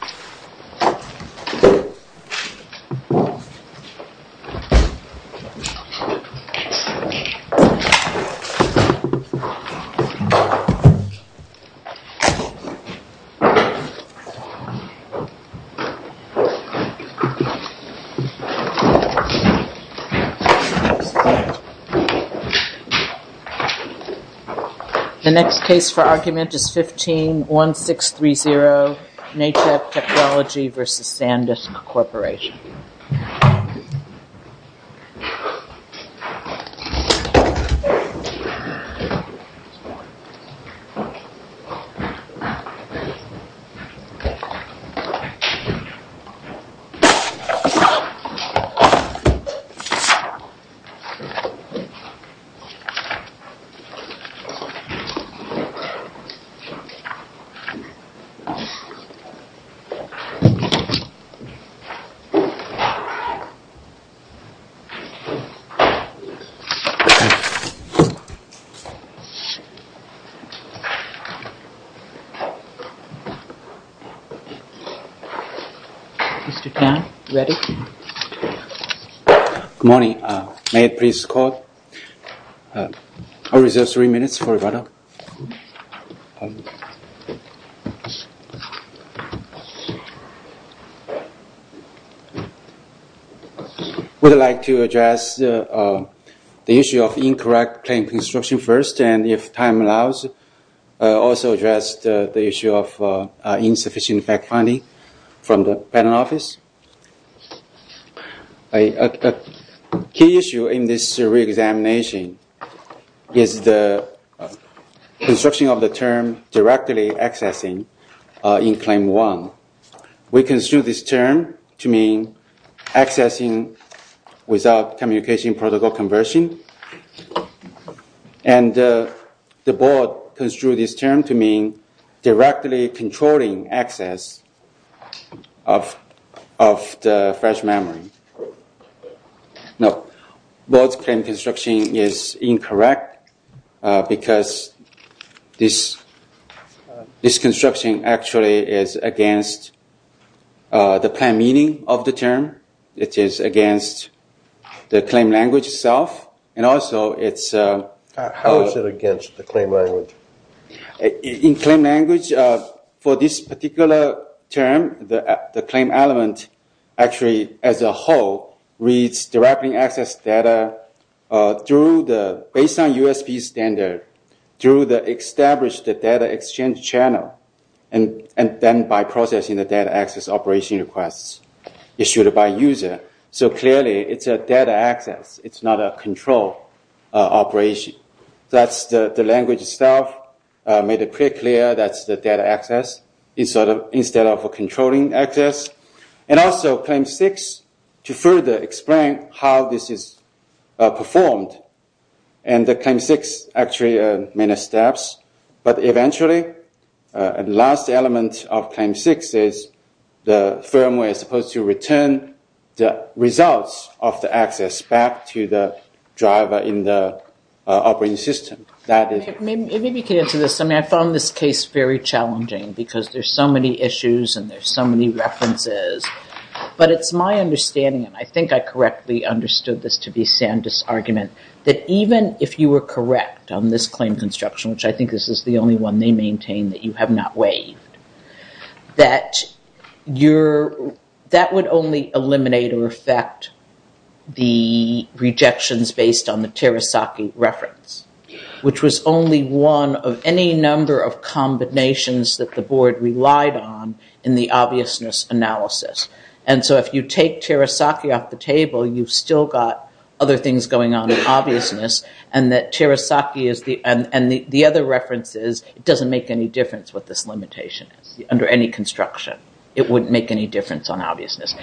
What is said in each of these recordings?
15-1630, NACCHP 15-1630, NACCHP Technology Co., Ltd. v. SanDisk Corporation 15-1630, NACCHP 15-1630, NACCHP Mr. Tan, are you ready? Good morning. May I please call? I will reserve three minutes for rebuttal. I would like to address the issue of incorrect claim construction first, and if time allows, I will also address the issue of insufficient fact-finding from the panel office. A key issue in this reexamination is the construction of the term directly accessing in Claim 1. We construed this term to mean accessing without communication protocol conversion, and the board construed this term to mean directly controlling access of the fresh memory. No, the board's claim construction is incorrect because this construction actually is against the planned meaning of the term. It is against the claim language itself, and also it's... How is it against the claim language? In claim language, for this particular term, the claim element actually as a whole reads directly access data based on USP standard through the established data exchange channel, and then by processing the data access operation requests issued by user. So clearly it's a data access, it's not a control operation. That's the language itself, made it pretty clear that's the data access instead of a controlling access. And also Claim 6, to further explain how this is performed, and the Claim 6 actually has many steps, but eventually the last element of Claim 6 is the firmware is supposed to return the results of the access back to the driver in the operating system. Maybe you can answer this. I mean, I found this case very challenging because there's so many issues and there's so many references, but it's my understanding, and I think I correctly understood this to be Sandus' argument, that even if you were correct on this claim construction, which I think this is the only one they maintain that you have not waived, that would only eliminate or affect the rejections based on the Terasaki reference, which was only one of any number of combinations that the board relied on in the obviousness analysis. And so if you take Terasaki off the table, you've still got other things going on in obviousness, and the other reference is it doesn't make any difference what this limitation is under any construction. It wouldn't make any difference on obviousness. Is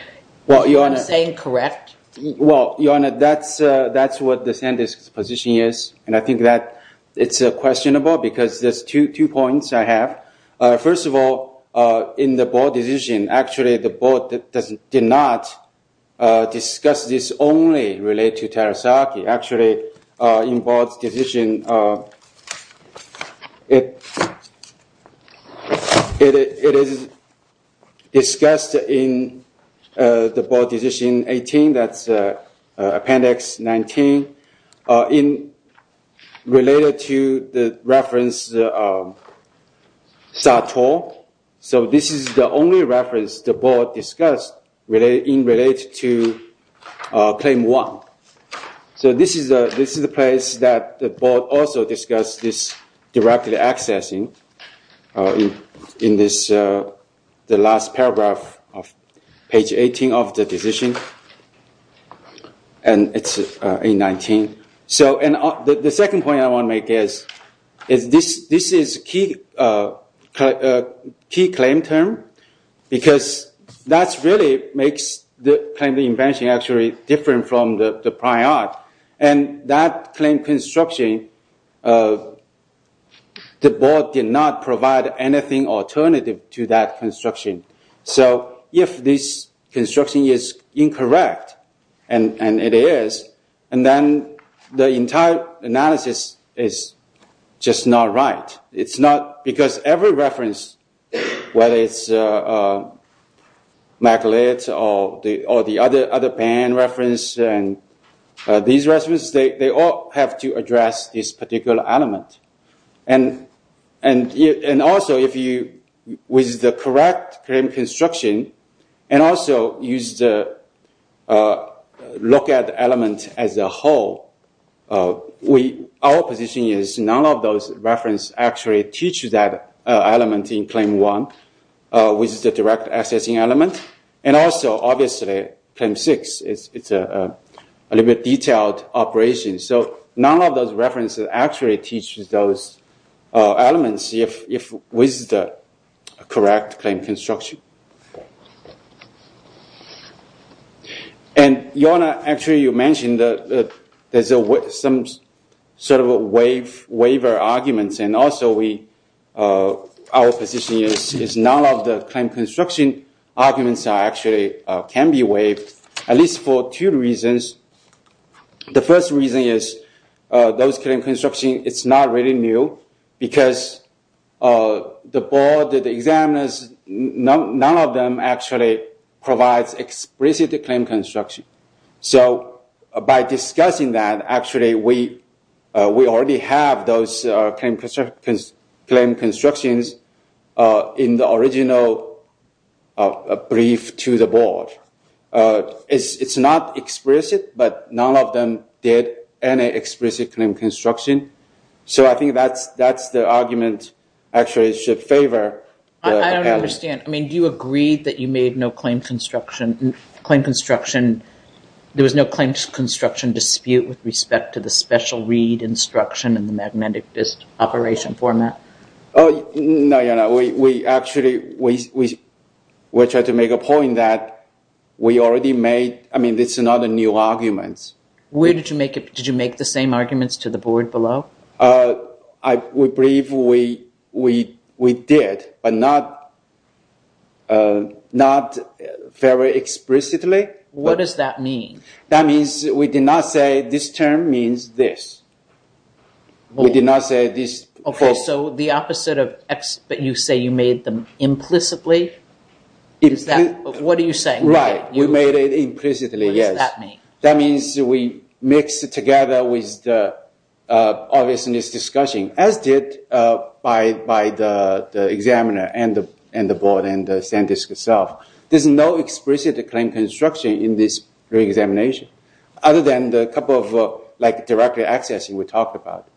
what I'm saying correct? Well, Your Honor, that's what the Sandus' position is, and I think that it's questionable because there's two points I have. First of all, in the board decision, actually the board did not discuss this only related to Terasaki. Actually, in board's decision, it is discussed in the board decision 18, that's appendix 19, related to the reference Sato. So this is the only reference the board discussed in relation to Claim 1. So this is the place that the board also discussed this directly accessing in the last paragraph of page 18 of the decision. And it's in 19. So the second point I want to make is this is a key claim term, because that really makes the claim to invention actually different from the prior. And that claim construction, the board did not provide anything alternative to that construction. So if this construction is incorrect, and it is, and then the entire analysis is just not right. It's not, because every reference, whether it's McLeod or the other pen reference, these references, they all have to address this particular element. And also, if you, with the correct claim construction, and also use the look at element as a whole, our position is none of those references actually teach that element in Claim 1, which is the direct accessing element. And also, obviously, Claim 6, it's a little bit detailed operation. So none of those references actually teaches those elements with the correct claim construction. And Yona, actually you mentioned that there's some sort of waiver arguments, and also our position is none of the claim construction arguments actually can be waived, at least for two reasons. The first reason is those claim construction, it's not really new, because the board, the examiners, none of them actually provides explicit claim construction. So by discussing that, actually we already have those claim constructions in the original brief to the board. It's not explicit, but none of them did any explicit claim construction. So I think that's the argument actually should favor. I don't understand. I mean, do you agree that you made no claim construction, there was no claim construction dispute with respect to the special read instruction and the magnetic disk operation format? No, Yona, we actually, we tried to make a point that we already made, I mean, it's not a new argument. Where did you make it? Did you make the same arguments to the board below? I believe we did, but not very explicitly. What does that mean? That means we did not say this term means this. We did not say this. Okay, so the opposite of explicit, you say you made them implicitly? What are you saying? Right, we made it implicitly, yes. What does that mean? That means we mixed it together with the obviousness discussion, as did by the examiner and the board and the SanDisk itself. There's no explicit claim construction in this re-examination, other than the couple of directly accessing we talked about.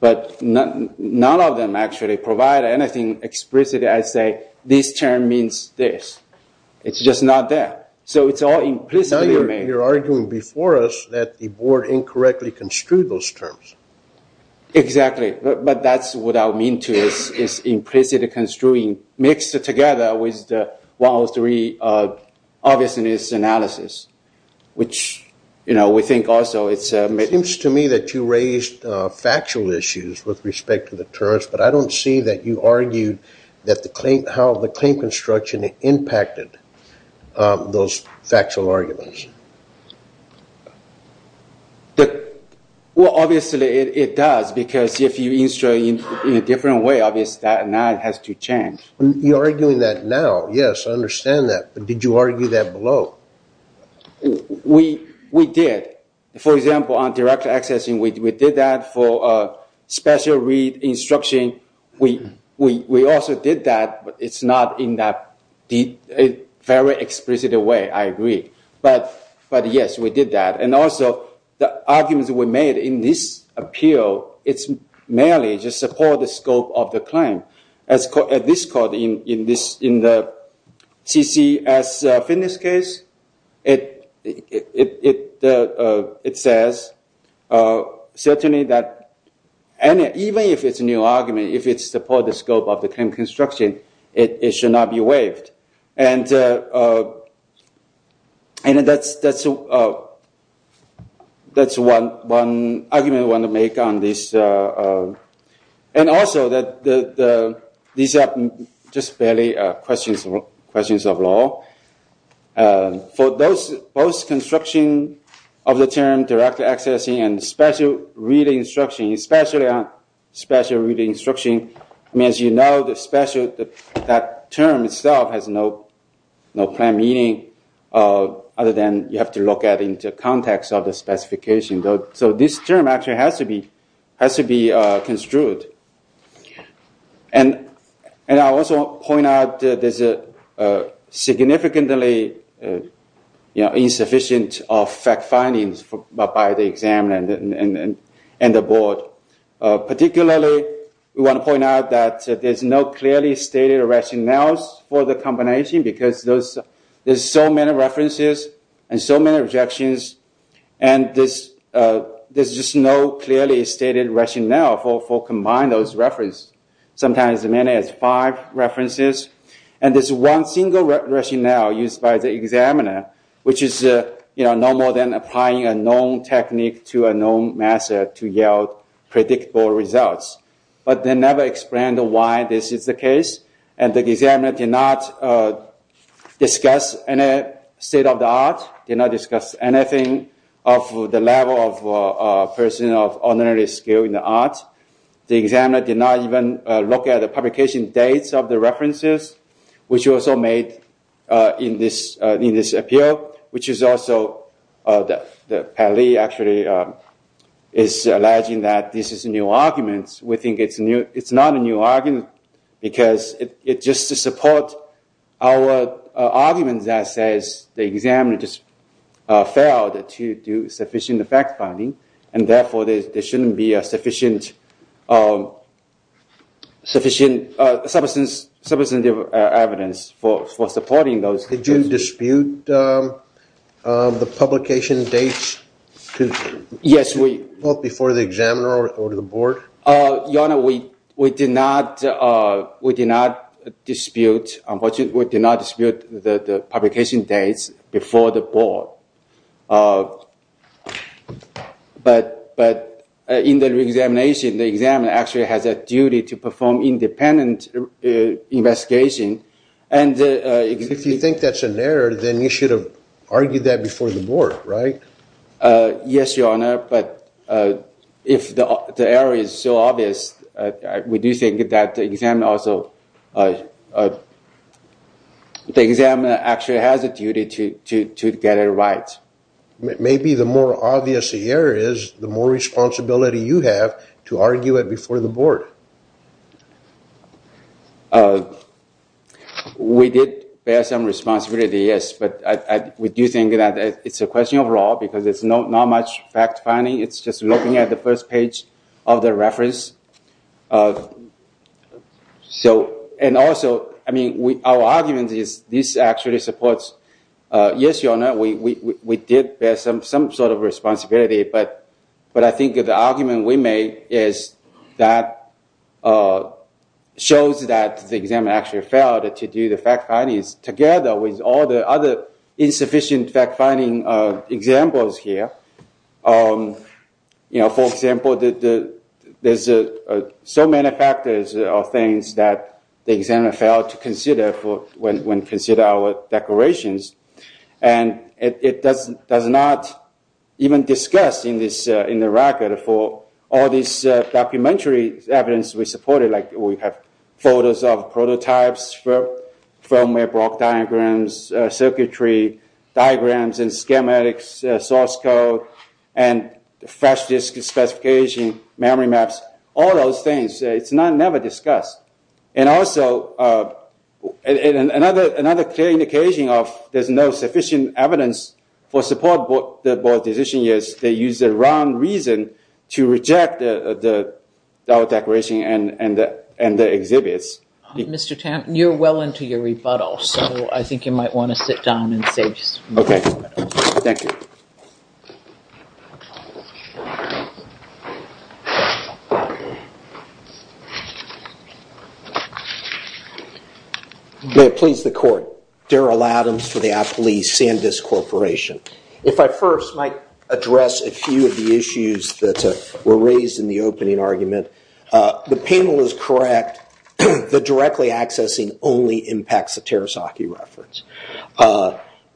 But none of them actually provide anything explicit as, say, this term means this. It's just not there. So it's all implicitly made. Now you're arguing before us that the board incorrectly construed those terms. Exactly, but that's what I mean, too, is implicitly construing, mixed together with the 103 obviousness analysis, which we think also it's... It seems to me that you raised factual issues with respect to the terms, but I don't see that you argued how the claim construction impacted those factual arguments. Well, obviously it does, because if you insert it in a different way, obviously that now has to change. You're arguing that now. Yes, I understand that. But did you argue that below? We did. For example, on direct accessing, we did that for special read instruction. We also did that, but it's not in that very explicit way. I agree. But, yes, we did that. And also, the arguments we made in this appeal, it merely just supports the scope of the claim. At this court, in the CCS fitness case, it says certainly that even if it's a new argument, if it supports the scope of the claim construction, it should not be waived. And that's one argument we want to make on this. And also, these are just barely questions of law. For those construction of the term direct accessing and special read instruction, especially on special read instruction, as you know, that term itself has no plain meaning other than you have to look at it in the context of the specification. So this term actually has to be construed. And I also want to point out that there's a significantly insufficient of fact findings by the examiner and the board. Particularly, we want to point out that there's no clearly stated rationales for the combination because there's so many references and so many objections. And there's just no clearly stated rationale for combining those references. Sometimes as many as five references. And there's one single rationale used by the examiner, which is no more than applying a known technique to a known method to yield predictable results. And the examiner did not discuss any state of the art, did not discuss anything of the level of person of honorary skill in the art. The examiner did not even look at the publication dates of the references, which was also made in this appeal. Which is also, Pally actually is alleging that this is a new argument. We think it's not a new argument because it's just to support our argument that says the examiner just failed to do sufficient fact finding. And therefore, there shouldn't be sufficient evidence for supporting those. Did you dispute the publication dates before the examiner or the board? Your Honor, we did not dispute the publication dates before the board. But in the examination, the examiner actually has a duty to perform independent investigation. If you think that's an error, then you should have argued that before the board, right? Yes, Your Honor, but if the error is so obvious, we do think that the examiner actually has a duty to get it right. Maybe the more obvious the error is, the more responsibility you have to argue it before the board. We did bear some responsibility, yes, but we do think that it's a question of law because it's not much fact finding, it's just looking at the first page of the reference. And also, our argument is this actually supports... Yes, Your Honor, we did bear some sort of responsibility, but I think the argument we made shows that the examiner actually failed to do the fact findings together with all the other insufficient fact finding examples here. For example, there's so many factors or things that the examiner failed to consider when considering our declarations, and it does not even discuss in the record for all these documentary evidence we supported, like we have photos of prototypes, firmware block diagrams, circuitry diagrams, and schematics, source code, and flash disk specification, memory maps, all those things. It's never discussed. And also, another clear indication of there's no sufficient evidence for support the board decision is they use the wrong reason to reject our declaration and the exhibits. Mr. Tanton, you're well into your rebuttal, so I think you might want to sit down and say... Okay, thank you. May it please the court, Daryl Adams for the Appley Sandisk Corporation. If I first might address a few of the issues that were raised in the opening argument. The panel is correct. The directly accessing only impacts the Terasaki reference.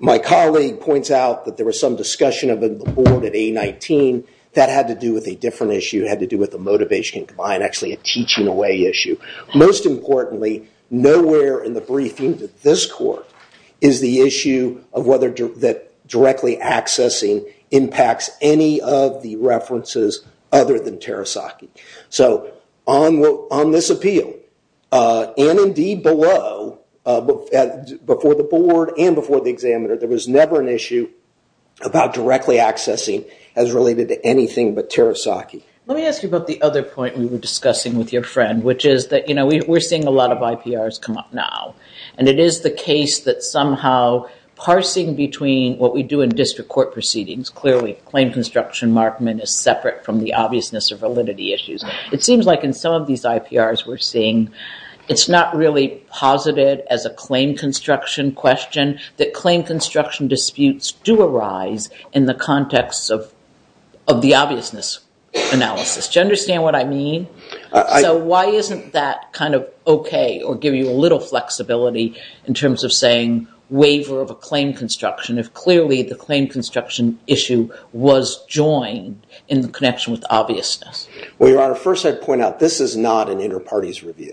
My colleague points out that there was some discussion of the board at A19 that had to do with a different issue, had to do with the motivation combined, actually a teaching away issue. Most importantly, nowhere in the briefing that this court is the issue of whether directly accessing impacts any of the references other than Terasaki. So on this appeal, and indeed below, before the board and before the examiner, there was never an issue about directly accessing as related to anything but Terasaki. Let me ask you about the other point we were discussing with your friend, which is that we're seeing a lot of IPRs come up now. And it is the case that somehow parsing between what we do in district court proceedings, clearly claim construction markment is separate from the obviousness of validity issues. It seems like in some of these IPRs we're seeing, it's not really posited as a claim construction question, that claim construction disputes do arise in the context of the obviousness analysis. Do you understand what I mean? So why isn't that kind of OK or give you a little flexibility in terms of saying waiver of a claim construction if clearly the claim construction issue was joined in connection with obviousness? Well, Your Honor, first I'd point out this is not an inter-parties review.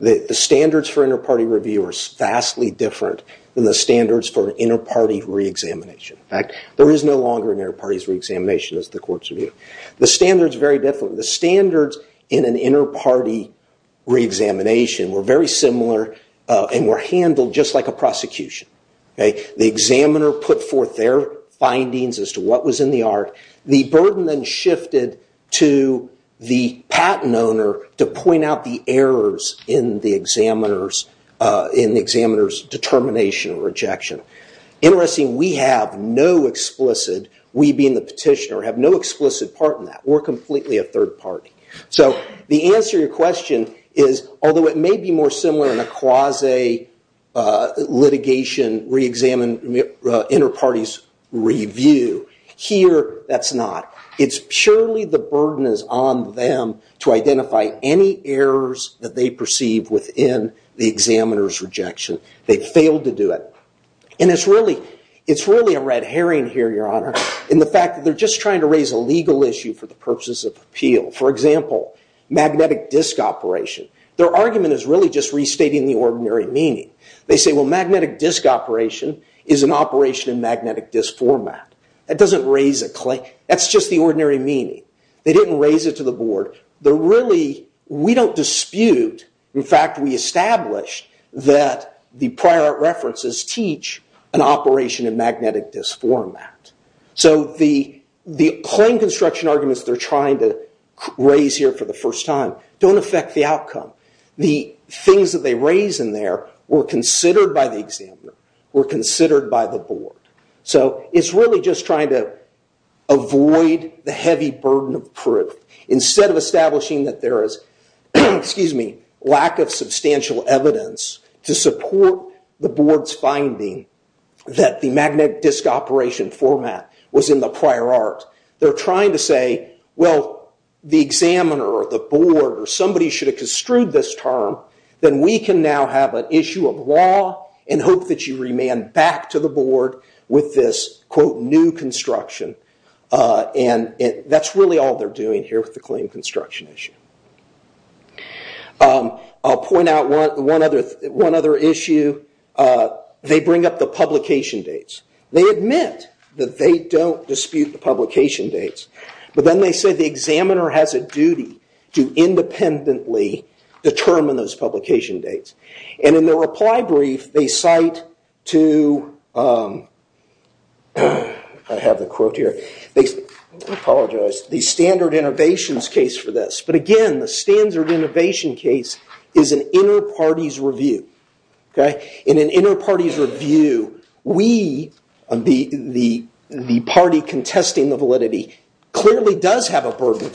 The standards for inter-party review are vastly different than the standards for inter-party re-examination. In fact, there is no longer an inter-parties re-examination as the courts review. The standards are very different. The standards in an inter-party re-examination were very similar and were handled just like a prosecution. The examiner put forth their findings as to what was in the art. The burden then shifted to the patent owner to point out the errors in the examiner's determination or rejection. Interesting, we have no explicit, we being the petitioner, have no explicit part in that. We're completely a third party. So the answer to your question is, although it may be more similar in a quasi-litigation re-examine inter-parties review, here that's not. It's surely the burden is on them to identify any errors that they perceive within the examiner's rejection. They failed to do it. And it's really a red herring here, your honor, in the fact that they're just trying to raise a legal issue for the purposes of appeal. For example, magnetic disk operation. Their argument is really just restating the ordinary meaning. They say, well, magnetic disk operation is an operation in magnetic disk format. That doesn't raise a claim. That's just the ordinary meaning. They didn't raise it to the board. We don't dispute, in fact, we established that the prior references teach an operation in magnetic disk format. So the claim construction arguments they're trying to raise here for the first time don't affect the outcome. The things that they raise in there were considered by the examiner, were considered by the board. So it's really just trying to avoid the heavy burden of proof. Instead of establishing that there is lack of substantial evidence to support the board's finding that the magnetic disk operation format was in the prior art. They're trying to say, well, the examiner or the board or somebody should have construed this term. Then we can now have an issue of law and hope that you remand back to the board with this, quote, new construction. That's really all they're doing here with the claim construction issue. I'll point out one other issue. They bring up the publication dates. They admit that they don't dispute the publication dates, but then they say the examiner has a duty to independently determine those publication dates. In their reply brief, they cite to, I have the quote here, I apologize, the standard innovations case for this. But again, the standard innovation case is an inner party's review. In an inner party's review, we, the party contesting the validity, clearly does have a burden of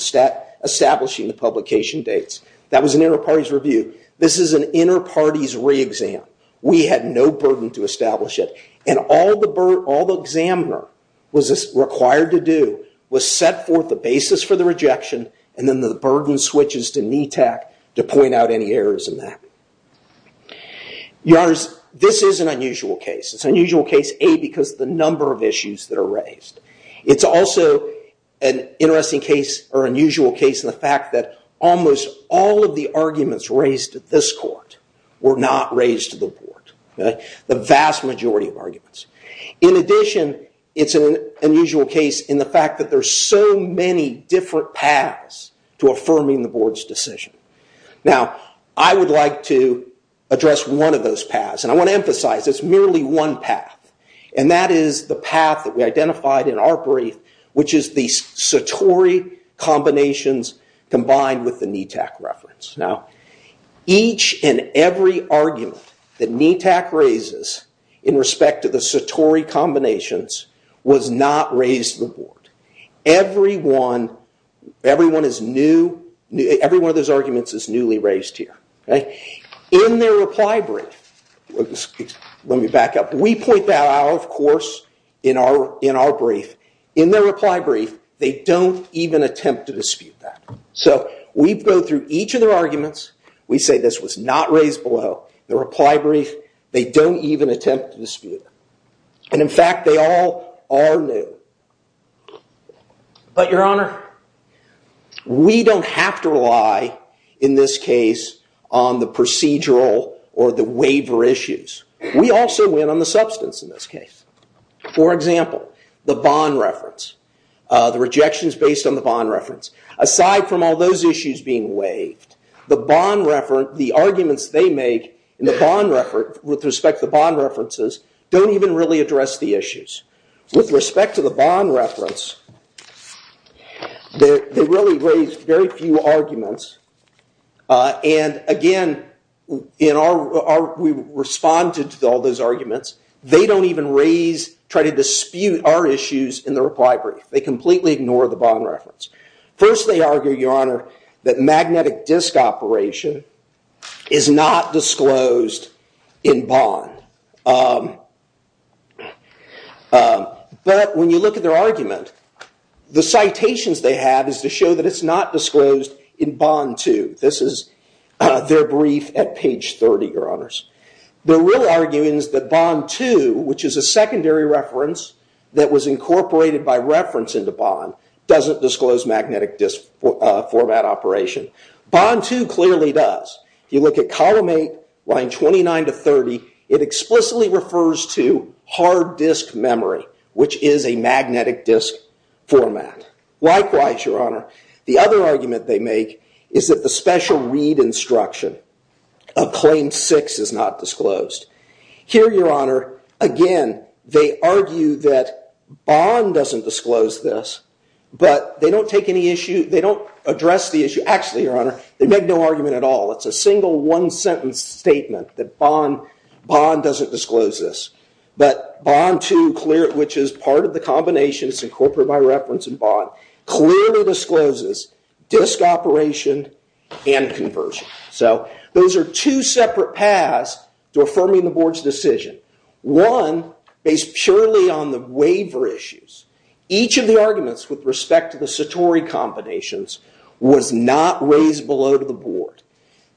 establishing the publication dates. That was an inner party's review. This is an inner party's re-exam. We had no burden to establish it. And all the examiner was required to do was set forth the basis for the rejection, and then the burden switches to NETAC to point out any errors in that. Your Honors, this is an unusual case. It's an unusual case, A, because of the number of issues that are raised. It's also an interesting case or unusual case in the fact that almost all of the arguments raised at this court were not raised to the board. The vast majority of arguments. In addition, it's an unusual case in the fact that there's so many different paths to affirming the board's decision. Now, I would like to address one of those paths. And I want to emphasize, it's merely one path. And that is the path that we identified in our brief, which is the Satori combinations combined with the NETAC reference. Now, each and every argument that NETAC raises in respect to the Satori combinations was not raised to the board. Every one of those arguments is newly raised here. In their reply brief, let me back up. We point that out, of course, in our brief. In their reply brief, they don't even attempt to dispute that. So we go through each of their arguments. We say this was not raised below the reply brief. They don't even attempt to dispute it. And in fact, they all are new. But Your Honor, we don't have to rely, in this case, on the procedural or the waiver issues. We also win on the substance in this case. For example, the bond reference. The rejection is based on the bond reference. Aside from all those issues being waived, the arguments they make with respect to the bond references don't even really address the issues. With respect to the bond reference, they really raised very few arguments. And again, we responded to all those arguments. They don't even try to dispute our issues in the reply brief. They completely ignore the bond reference. First, they argue, Your Honor, that magnetic disk operation is not disclosed in bond. But when you look at their argument, the citations they have is to show that it's not disclosed in bond, too. This is their brief at page 30, Your Honors. Their real argument is that bond 2, which is a secondary reference that was incorporated by reference into bond, doesn't disclose magnetic disk format operation. Bond 2 clearly does. If you look at column 8, line 29 to 30, it explicitly refers to hard disk memory, which is a magnetic disk format. Likewise, Your Honor, the other argument they make is that the special read instruction of claim 6 is not disclosed. Here, Your Honor, again, they argue that bond doesn't disclose this, but they don't address the issue. Actually, Your Honor, they make no argument at all. It's a single, one-sentence statement that bond doesn't disclose this. But bond 2, which is part of the combination that's incorporated by reference in bond, clearly discloses disk operation and conversion. So those are two separate paths to affirming the board's decision. One, based purely on the waiver issues, each of the arguments with respect to the Satori combinations was not raised below to the board.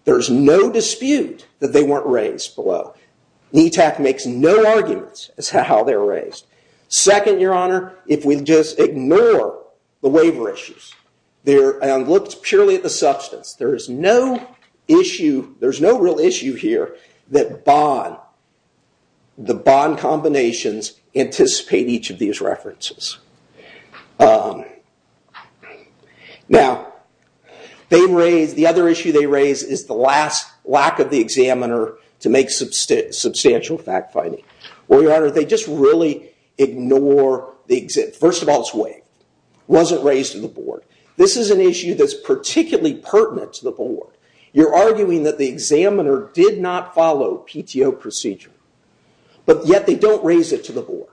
There's no dispute that they weren't raised below. NETAC makes no arguments as to how they were raised. Second, Your Honor, if we just ignore the waiver issues and looked purely at the substance, there's no real issue here that the bond combinations anticipate each of these references. Now, the other issue they raise is the lack of the examiner to make substantial fact-finding. Well, Your Honor, they just really ignore the exemptions. First of all, it's waived. It wasn't raised to the board. This is an issue that's particularly pertinent to the board. You're arguing that the examiner did not follow PTO procedure, but yet they don't raise it to the board.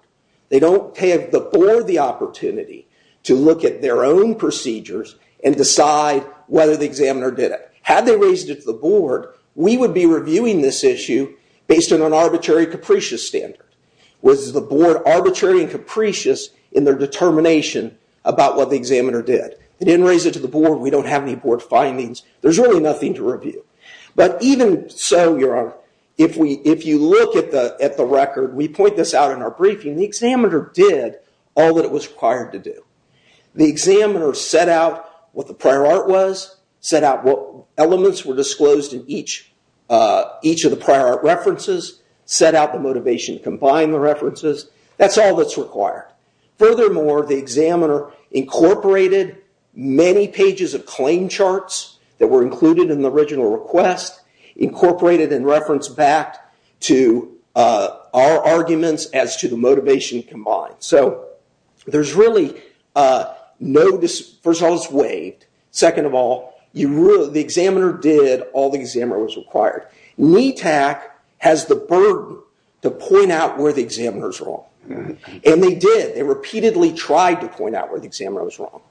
They don't give the board the opportunity to look at their own procedures and decide whether the examiner did it. Had they raised it to the board, we would be reviewing this issue based on an arbitrary and capricious standard. Was the board arbitrary and capricious in their determination about what the examiner did? They didn't raise it to the board. We don't have any board findings. There's really nothing to review. But even so, Your Honor, if you look at the record, we point this out in our briefing, the examiner did all that it was required to do. The examiner set out what the prior art was, set out what elements were disclosed in each of the prior art references, set out the motivation to combine the references. That's all that's required. Furthermore, the examiner incorporated many pages of claim charts that were included in the original request, incorporated in reference back to our arguments as to the motivation combined. So there's really no... First of all, it's waived. Second of all, the examiner did all the examiner was required. NETAC has the burden to point out where the examiner's wrong. And they did. They repeatedly tried to point out where the examiner was wrong.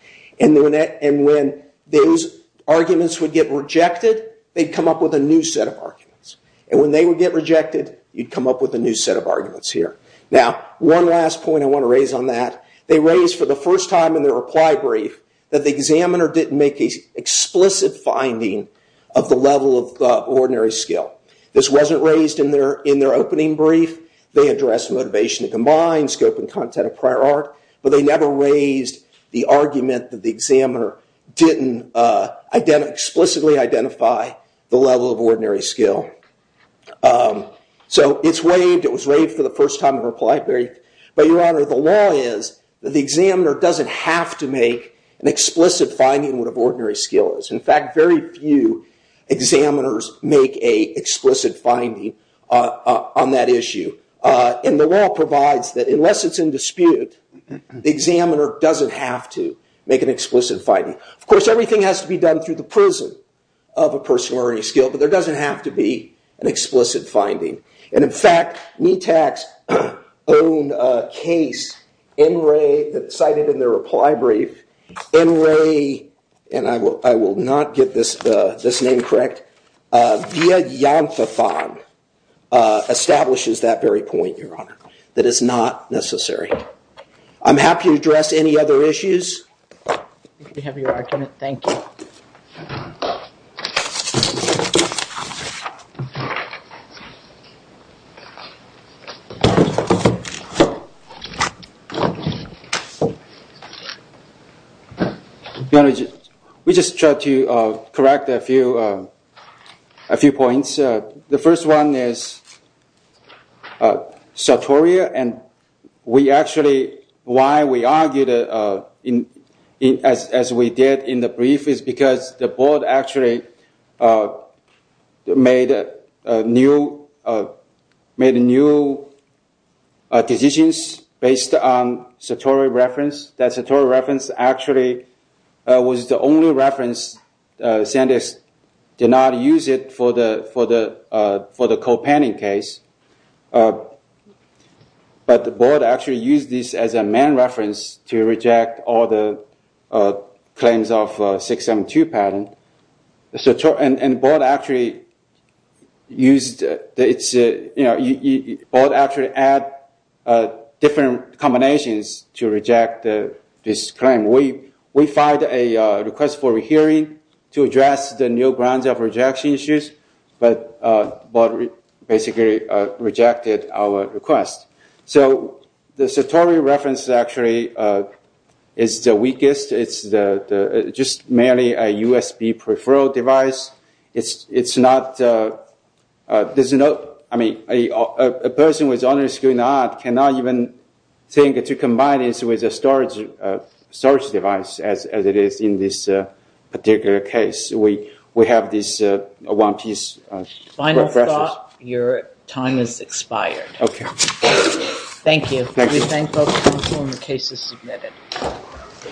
And when those arguments would get rejected, they'd come up with a new set of arguments. And when they would get rejected, you'd come up with a new set of arguments here. Now, one last point I want to raise on that. They raised for the first time in their reply brief that the examiner didn't make an explicit finding of the level of ordinary skill. This wasn't raised in their opening brief. They addressed motivation to combine, scope and content of prior art, but they never raised the argument that the examiner didn't explicitly identify the level of ordinary skill. So it's waived. It was waived for the first time in reply brief. But, Your Honor, the law is that the examiner doesn't have to make an explicit finding of what ordinary skill is. In fact, very few examiners make an explicit finding on that issue. And the law provides that unless it's in dispute, the examiner doesn't have to make an explicit finding. Of course, everything has to be done through the prison of a person of ordinary skill, but there doesn't have to be an explicit finding. And, in fact, NETAC's own case in Ray, cited in their reply brief, in Ray, and I will not get this name correct, via Yonfathon, establishes that very point, Your Honor, that it's not necessary. I'm happy to address any other issues. If you have your argument, thank you. Your Honor, we just tried to correct a few points. Your Honor, we just tried to correct a few points. The first one is Sartoria, and we actually, why we argued, as we did in the brief, is because the board actually made new decisions based on Sartoria reference. That Sartoria reference actually was the only reference Sandex did not use for the co-panning case. But the board actually used this as a main reference to reject all the claims of 672 patent. And the board actually used, the board actually added different combinations to reject this claim. We filed a request for a hearing to address the new grounds of rejection issues, but basically rejected our request. So the Sartoria reference actually is the weakest. It's just merely a USB peripheral device. It's not, there's no, I mean, a person with honors in art cannot even think to combine this with a storage device, as it is in this particular case. We have this one piece. Final thought, your time has expired. Okay. Thank you. We thank both counsel and the cases submitted.